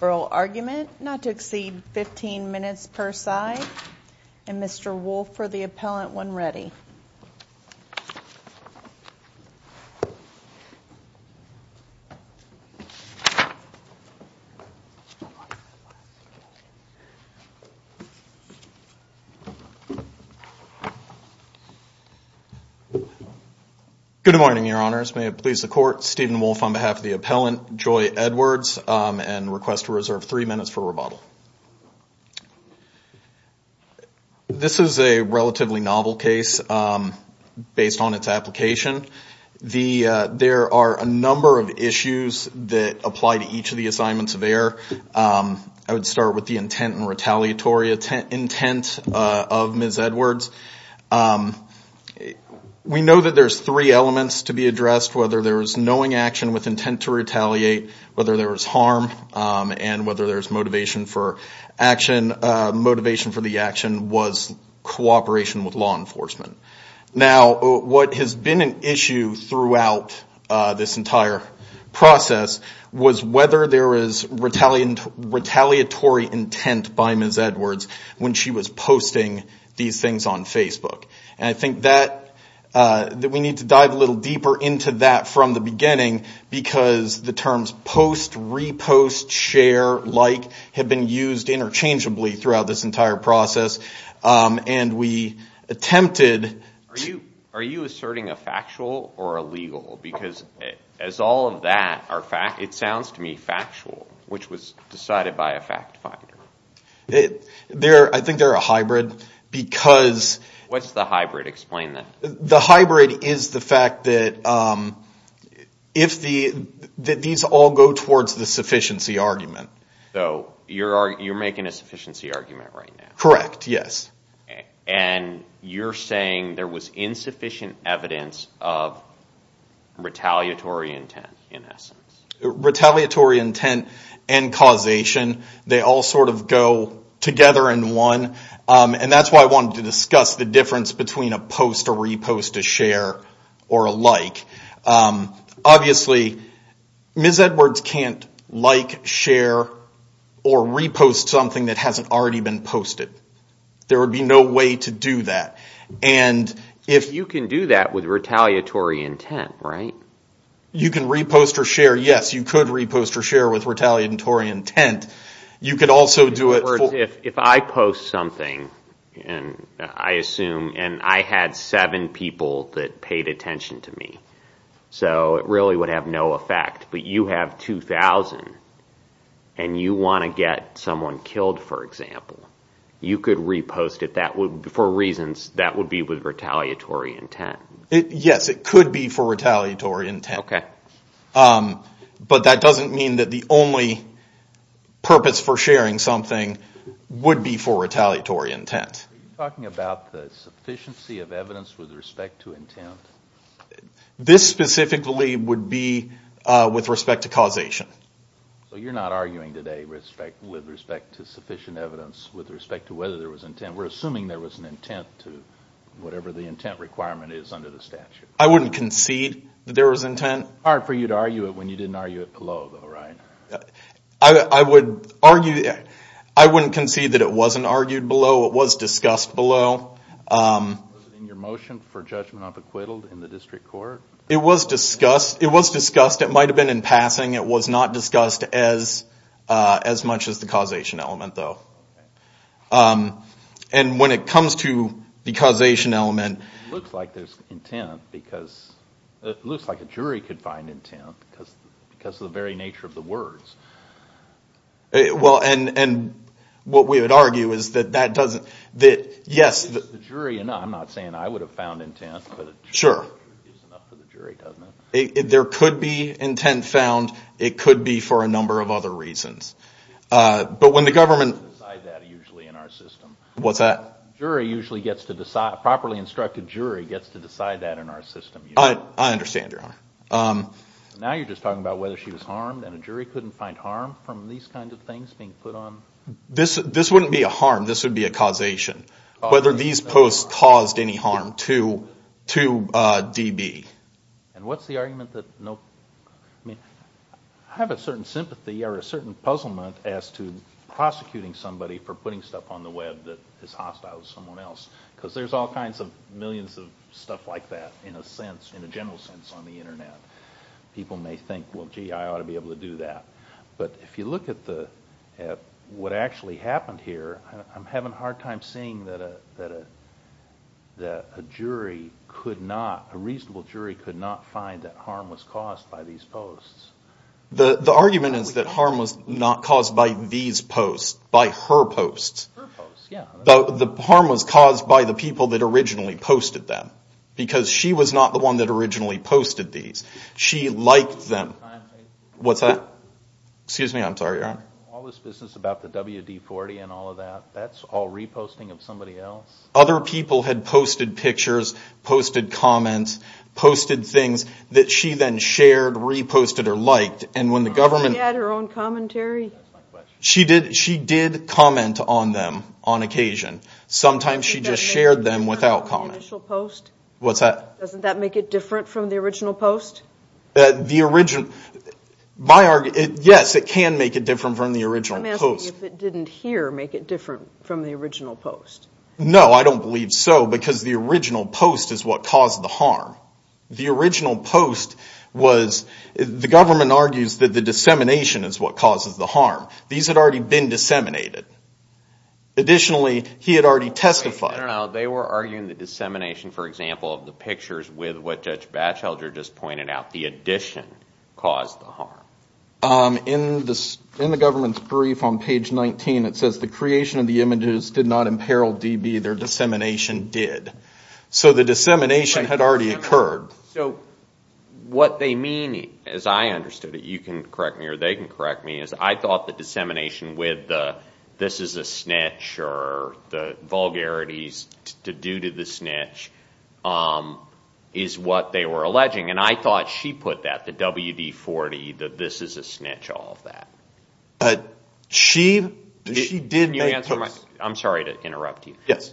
oral argument not to exceed 15 minutes per side and Mr. Wolfe for the appellant when Good morning, your honors. May it please the court, Stephen Wolfe on behalf of the appellant, Joy Edwards and request to reserve three minutes for rebuttal. This is a relatively novel case based on its application. There are a number of issues that apply to each of the assignments of the intent and retaliatory intent of Ms. Edwards. We know that there are three elements to be addressed, whether there is knowing action with intent to retaliate, whether there is harm, and whether there is motivation for action. Motivation for the action was cooperation with law enforcement. Now, what has been an issue throughout this entire process was whether there is retaliatory intent by Ms. Edwards when she was posting these things on Facebook. And I think that we need to dive a little deeper into that from the beginning because the terms post, repost, share, like have been used interchangeably throughout this entire process. And we attempted Are you asserting a factual or a legal? Because as all of that are fact, it sounds to me factual, which was decided by a fact finder. I think they're a hybrid because... What's the hybrid? Explain that. The hybrid is the fact that these all go towards the sufficiency argument. So you're making a sufficiency argument right now? Correct. Yes. And you're saying there was insufficient evidence of retaliatory intent in essence. Retaliatory intent and causation, they all sort of go together in one. And that's why I wanted to discuss the difference between a post, a repost, a share, or a like. Obviously, Ms. Edwards can't like, share, or repost something that hasn't already been posted. There would be no way to do that. And if... You can do that with retaliatory intent, right? You can repost or share. Yes, you could repost or share with retaliatory intent. You could also do it... If I post something and I had seven people that paid attention to me, so it really would have no effect. But you have 2,000 and you want to get someone killed, for example, you could repost it for reasons that would be with retaliatory intent. Yes, it could be for retaliatory intent. Okay. But that doesn't mean that the only purpose for sharing something would be for retaliatory intent. Are you talking about the sufficiency of evidence with respect to intent? This specifically would be with respect to causation. So you're not arguing today with respect to sufficient evidence with respect to whether there was intent. We're assuming there was an intent to whatever the intent requirement is under the statute. I wouldn't concede that there was intent. Hard for you to argue it when you didn't argue it below, though, right? I would argue... I wouldn't concede that it wasn't argued below. It was discussed below. Was it in your district court? It was discussed. It was discussed. It might have been in passing. It was not discussed as much as the causation element, though. And when it comes to the causation element... It looks like there's intent because... It looks like a jury could find intent because of the very nature of the words. Well, and what we would argue is that that doesn't... The jury... No, I'm not saying I think it's enough for the jury, doesn't it? Sure. There could be intent found. It could be for a number of other reasons. But when the government... We don't decide that usually in our system. What's that? A jury usually gets to decide... A properly instructed jury gets to decide that in our system. I understand, Your Honor. Now you're just talking about whether she was harmed and a jury couldn't find harm from these kinds of things being put on... This wouldn't be a harm. This would be a causation. Whether these posts caused any harm to DB. And what's the argument that... I have a certain sympathy or a certain puzzlement as to prosecuting somebody for putting stuff on the web that is hostile to someone else. Because there's all kinds of millions of stuff like that in a sense, in a general sense, on the internet. People may think, well, gee, I ought to be able to do that. But if you look at what actually happened here, I'm having a hard time seeing that a jury could not, a reasonable jury could not find that harm was caused by these posts. The argument is that harm was not caused by these posts, by her posts. Her posts, yeah. The harm was caused by the people that originally posted them. Because she was not the one that originally posted these. She liked them. What's that? Excuse me, I'm sorry, Your Honor. All this business about the WD-40 and all of that, that's all reposting of somebody else? Other people had posted pictures, posted comments, posted things that she then shared, reposted, or liked. And when the government... She would comment on them on occasion. Sometimes she just shared them without comment. What's that? Doesn't that make it different from the original post? Yes, it can make it different from the original post. I'm asking if it didn't hear make it different from the original post. No, I don't believe so, because the original post is what caused the harm. The original post was, the government argues that the dissemination is what causes the harm. These had already been disseminated. Additionally, he had already testified. I don't know. They were arguing the dissemination, for example, of the pictures with what Judge Batchelder just pointed out. The addition caused the harm. In the government's brief on page 19, it says the creation of the images did not imperil DB. Their dissemination did. So the dissemination had already occurred. So what they mean, as I understood it, you can correct me or they can correct me, is I thought the dissemination with the this is a snitch or the vulgarities to do to the snitch is what they were alleging. And I thought she put that, the WD-40, the this is a snitch, all of that. Can you answer my, I'm sorry to interrupt you. Yes.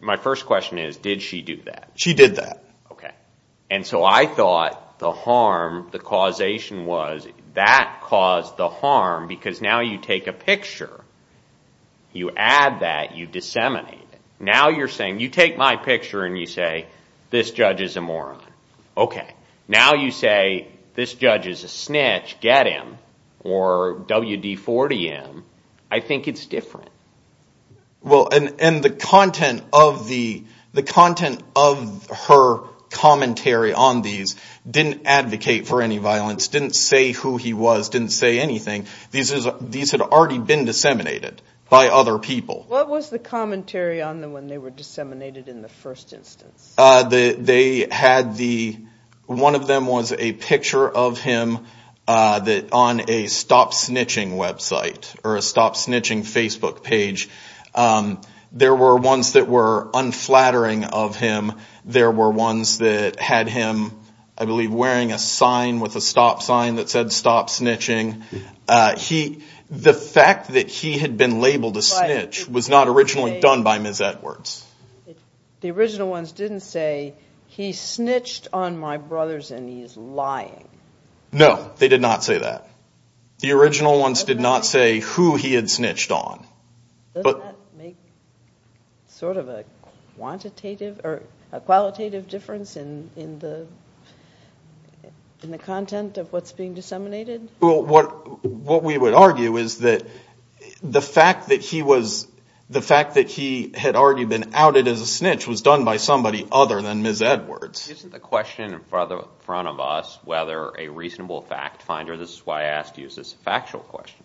My first question is, did she do that? She did that. Okay. And so I thought the harm, the causation was that caused the harm because now you take a picture, you add that, you disseminate it. Now you're saying, you take my picture and you say this judge is a moron. Okay. Now you say this judge is a snitch, get him, or WD-40 him. I think it's different. Well, and the content of the, the content of her commentary on these didn't advocate for any violence, didn't say who he was, didn't say anything. These had already been disseminated by other people. What was the commentary on them when they were disseminated in the first instance? They had the, one of them was a picture of him on a stop snitching website or a stop snitching Facebook page. There were ones that were unflattering of him. There were ones that had him, I believe, wearing a sign with a stop sign that said stop snitching. He, the fact that he had been labeled a snitch was not originally done by Ms. Edwards. The original ones didn't say he snitched on my brothers and he's lying. No, they did not say that. The original ones did not say who he had snitched on. Does that make sort of a quantitative or a qualitative difference in, in the, in the content of what's being disseminated? Well, what, what we would argue is that the fact that he was, the fact that he had already been outed as a snitch was done by somebody other than Ms. Edwards. Isn't the question in front of us whether a reasonable fact finder, this is why I asked you, is this a factual question?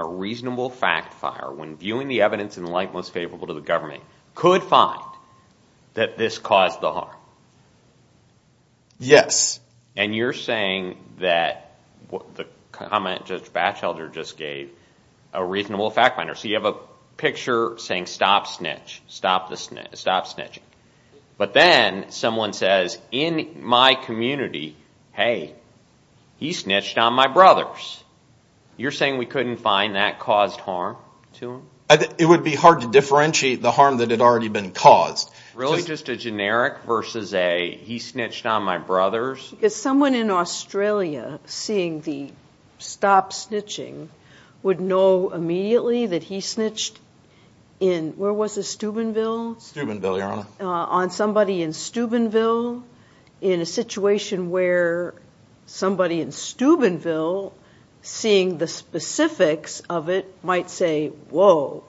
A reasonable fact finder, when viewing the evidence in light most favorable to the government, could find that this caused the harm? Yes. And you're saying that the comment Judge Batchelder just gave, a reasonable fact finder. So you have a picture saying stop snitch, stop the snitch, stop snitching. But then someone says in my community, hey, he snitched on my brothers. You're saying we couldn't find that caused harm to him? It would be hard to differentiate the harm that had already been caused. Really just a generic versus a, he snitched on my brothers? Because someone in Australia seeing the stop snitching would know immediately that he snitched in, where was this, Steubenville? Steubenville, Your Honor. On somebody in Steubenville, in a situation where somebody in Steubenville seeing the specifics of it might say, whoa,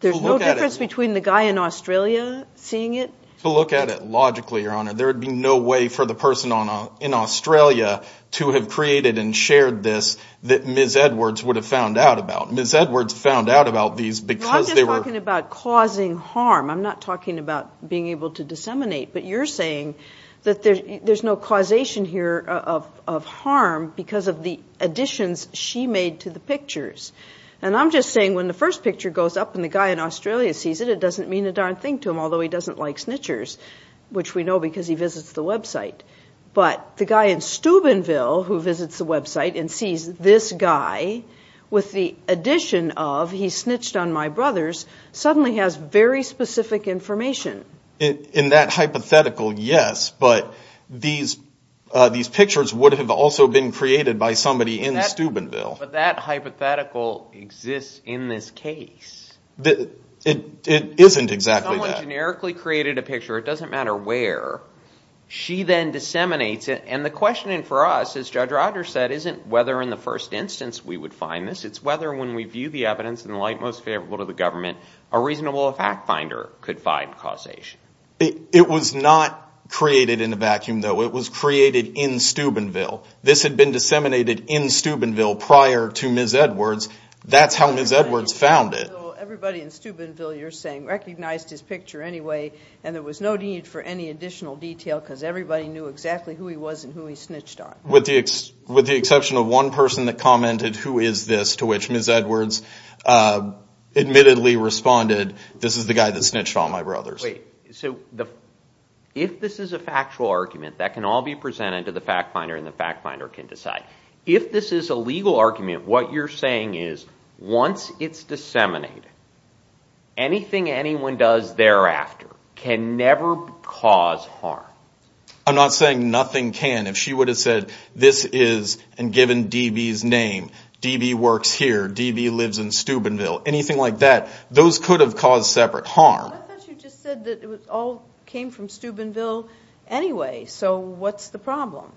there's no difference between the guy in Australia seeing it? To look at it logically, Your Honor, there would be no way for the person in Australia to have created and shared this that Ms. Edwards would have found out about. Ms. Edwards found out about these because they were... I'm not talking about being able to disseminate, but you're saying that there's no causation here of harm because of the additions she made to the pictures. And I'm just saying when the first picture goes up and the guy in Australia sees it, it doesn't mean a darn thing to him, although he doesn't like snitchers, which we know because he visits the website. But the guy in Steubenville who visits the website and sees this guy with the addition of, he snitched on my brothers, suddenly has very specific information. In that hypothetical, yes, but these pictures would have also been created by somebody in Steubenville. But that hypothetical exists in this case. It isn't exactly that. If someone generically created a picture, it doesn't matter where, she then disseminates it. And the question for us, as Judge Rogers said, isn't whether in the first instance we would find this, it's whether when we view the evidence in the light most favorable to the government, a reasonable fact finder could find causation. It was not created in a vacuum, though. It was created in Steubenville. This had been disseminated in Steubenville prior to Ms. Edwards. That's how Ms. Edwards found it. So everybody in Steubenville, you're saying, recognized his picture anyway and there was no need for any additional detail because everybody knew exactly who he was and who he snitched on. With the exception of one person that commented, who is this, to which Ms. Edwards admittedly responded, this is the guy that snitched on my brothers. Wait, so if this is a factual argument, that can all be presented to the fact finder and the fact finder can decide. If this is a legal argument, what you're saying is once it's disseminated, anything anyone does thereafter can never cause harm. I'm not saying nothing can. If she would have said this is, and given D.B.'s name, D.B. works here, D.B. lives in Steubenville, anything like that, those could have caused separate harm. I thought you just said that it all came from Steubenville anyway, so what's the problem?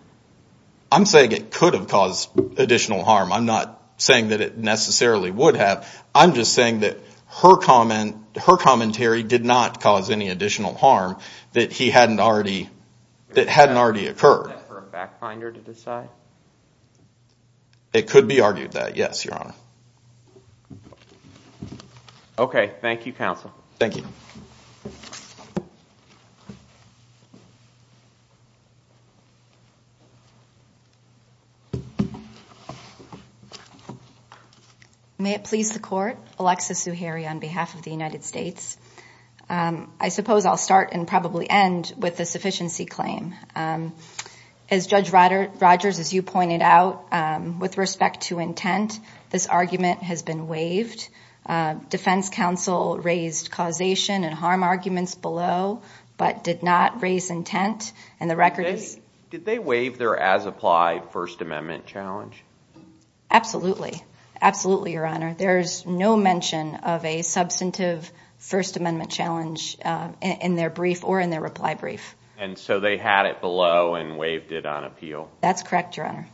I'm saying it could have caused additional harm. I'm not saying that it necessarily would have. I'm just saying that her commentary did not cause any additional harm that hadn't already occurred. Is that for a fact finder to decide? It could be argued that, yes, your honor. Okay, thank you, counsel. Thank you. May it please the court, Alexis Zuhairi on behalf of the United States. I suppose I'll start and probably end with the sufficiency claim. As Judge Rogers, as you pointed out, with respect to intent, this argument has been waived. Defense counsel raised causation and harm arguments below, but did not raise intent. Did they waive their as-applied First Amendment challenge? Absolutely. Absolutely, your honor. There is no mention of a substantive First Amendment challenge in their brief or in their reply brief. And so they had it below and waived it on appeal? That's correct, your honor.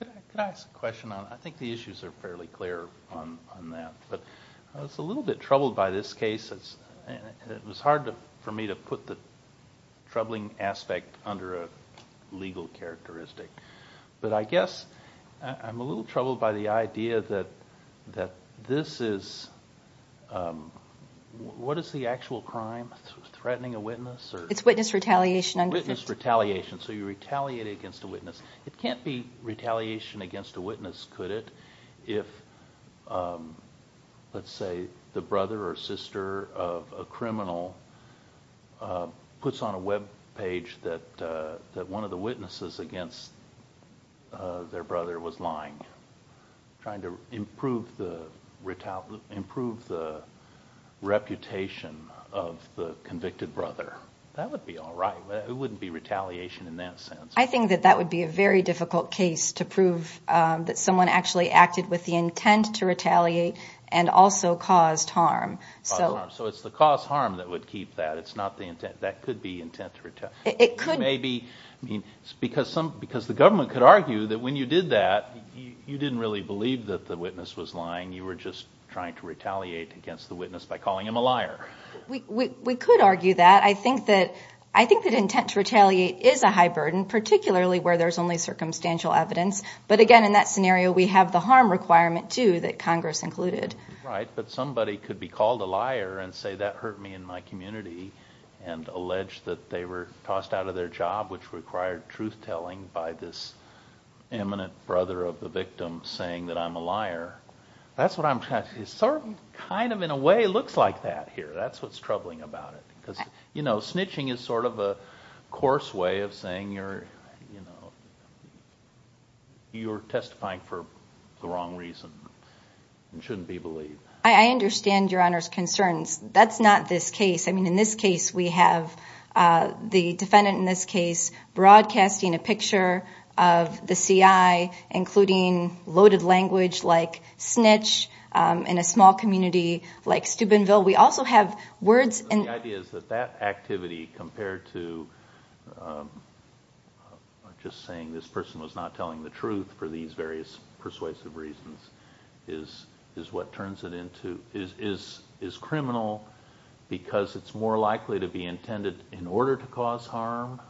Could I ask a question? I think the issues are fairly clear on that. I was a little bit troubled by this case. It was hard for me to put the troubling aspect under a legal characteristic. But I guess I'm a little troubled by the idea that this is, what is the actual crime? Threatening a witness? It's witness retaliation. So you retaliate against a witness. It can't be retaliation against a witness, could it, if, let's say, the brother or sister of a criminal puts on a webpage that one of the witnesses against their brother was lying, trying to improve the reputation of the convicted brother. That would be all right. It wouldn't be retaliation in that sense. I think that would be a very difficult case to prove that someone actually acted with the intent to retaliate and also caused harm. So it's the caused harm that would keep that. That could be intent to retaliate. Because the government could argue that when you did that, you didn't really believe that the witness was lying. You were just trying to retaliate against the witness by calling him a liar. We could argue that. But I think that intent to retaliate is a high burden, particularly where there's only circumstantial evidence. But again, in that scenario, we have the harm requirement, too, that Congress included. Right, but somebody could be called a liar and say that hurt me in my community and allege that they were tossed out of their job, which required truth-telling by this eminent brother of the victim saying that I'm a liar. It sort of, in a way, looks like that here. That's what's troubling about it. Because snitching is sort of a coarse way of saying you're testifying for the wrong reason. It shouldn't be believed. I understand Your Honor's concerns. That's not this case. In this case, we have the defendant broadcasting a picture of the CI including loaded language like snitch in a small community like Steubenville. The idea is that that activity compared to just saying this person was not telling the truth for these various persuasive reasons is what turns it into is criminal because it's more likely to be intended in order to cause harm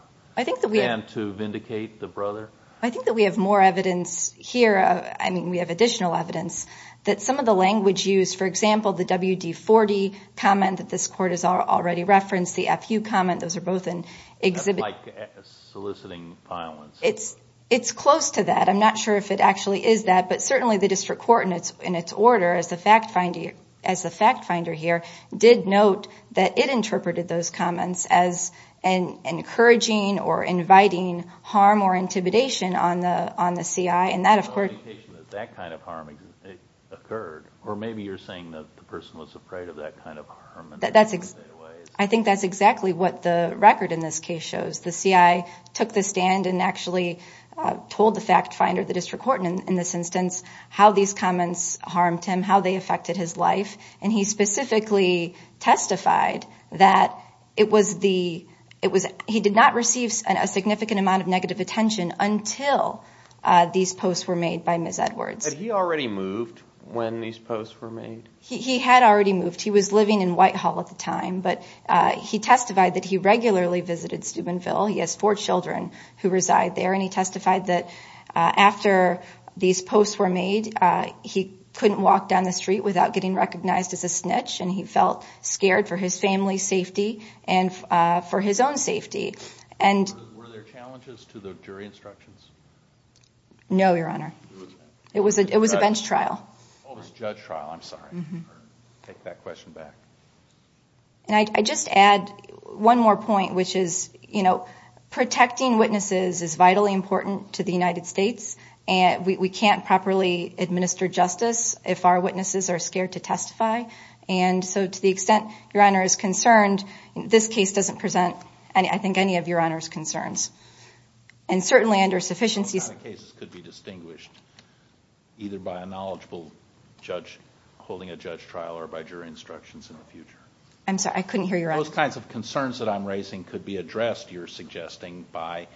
than to vindicate the brother? I think that we have more evidence here. I mean, we have additional evidence that some of the language used, for example, the WD-40 comment that this Court has already referenced, the FU comment, those are both in exhibit... That's like soliciting violence. It's close to that. I'm not sure if it actually is that. But certainly the District Court, in its order, as the fact finder here, did note that it interpreted those comments as encouraging or inviting harm or intimidation on the CI. And that, of course... That kind of harm occurred. Or maybe you're saying that the person was afraid of that kind of harm. I think that's exactly what the record in this case shows. The CI took the stand and actually told the fact finder, the District Court in this instance, how these comments harmed him, how they affected his life. And he specifically testified that he did not receive a significant amount of negative attention until these posts were made by Ms. Edwards. Had he already moved when these posts were made? He had already moved. He was living in Whitehall at the time. But he testified that he regularly visited Steubenville. He has four children who reside there. And he testified that after these posts were made, he couldn't walk down the street without getting recognized as a snitch. And he felt scared for his family's safety and for his own safety. Were there challenges to the jury instructions? No, Your Honor. It was a bench trial. Oh, it was a judge trial. I'm sorry. I'll take that question back. And I just add one more point, which is, you know, protecting witnesses is vitally important to the United States. And we can't properly administer justice if our witnesses are scared to testify. And so to the extent Your Honor is concerned, this case doesn't present, I think, any of Your Honor's concerns. And certainly under sufficiency... Those kind of cases could be distinguished either by a knowledgeable judge holding a judge trial or by jury instructions in the future. I'm sorry, I couldn't hear your answer. Those kinds of concerns that I'm raising could be addressed, you're suggesting, by,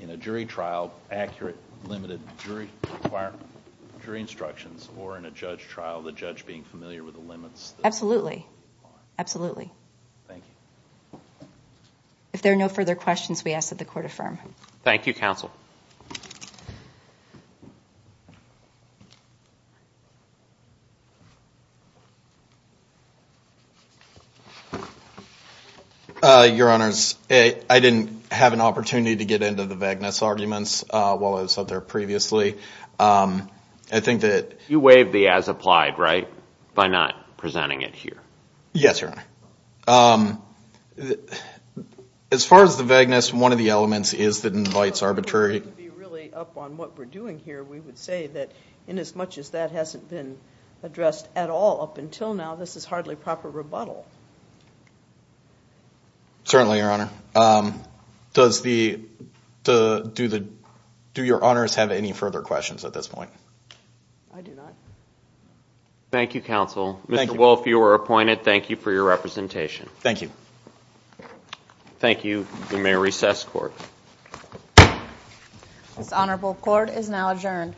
in a jury trial, accurate, limited jury instructions. Or in a judge trial, the judge being familiar with the limits... Absolutely. Absolutely. Thank you. If there are no further questions, we ask that the Court affirm. Thank you, Counsel. Your Honors, I didn't have an opportunity to get into the vagueness arguments while I was up there previously. I think that... You waived the as-applied, right? By not presenting it here. Yes, Your Honor. As far as the vagueness, one of the elements is that invites arbitration. And I think that's a good point. It would be really up on what we're doing here. We would say that inasmuch as that hasn't been addressed at all up until now, this is hardly proper rebuttal. Certainly, Your Honor. Does the... Do Your Honors have any further questions at this point? I do not. Thank you, Counsel. Mr. Wolf, you are appointed. Thank you for your representation. Thank you. Thank you. We may recess the Court. This Honorable Court is now adjourned.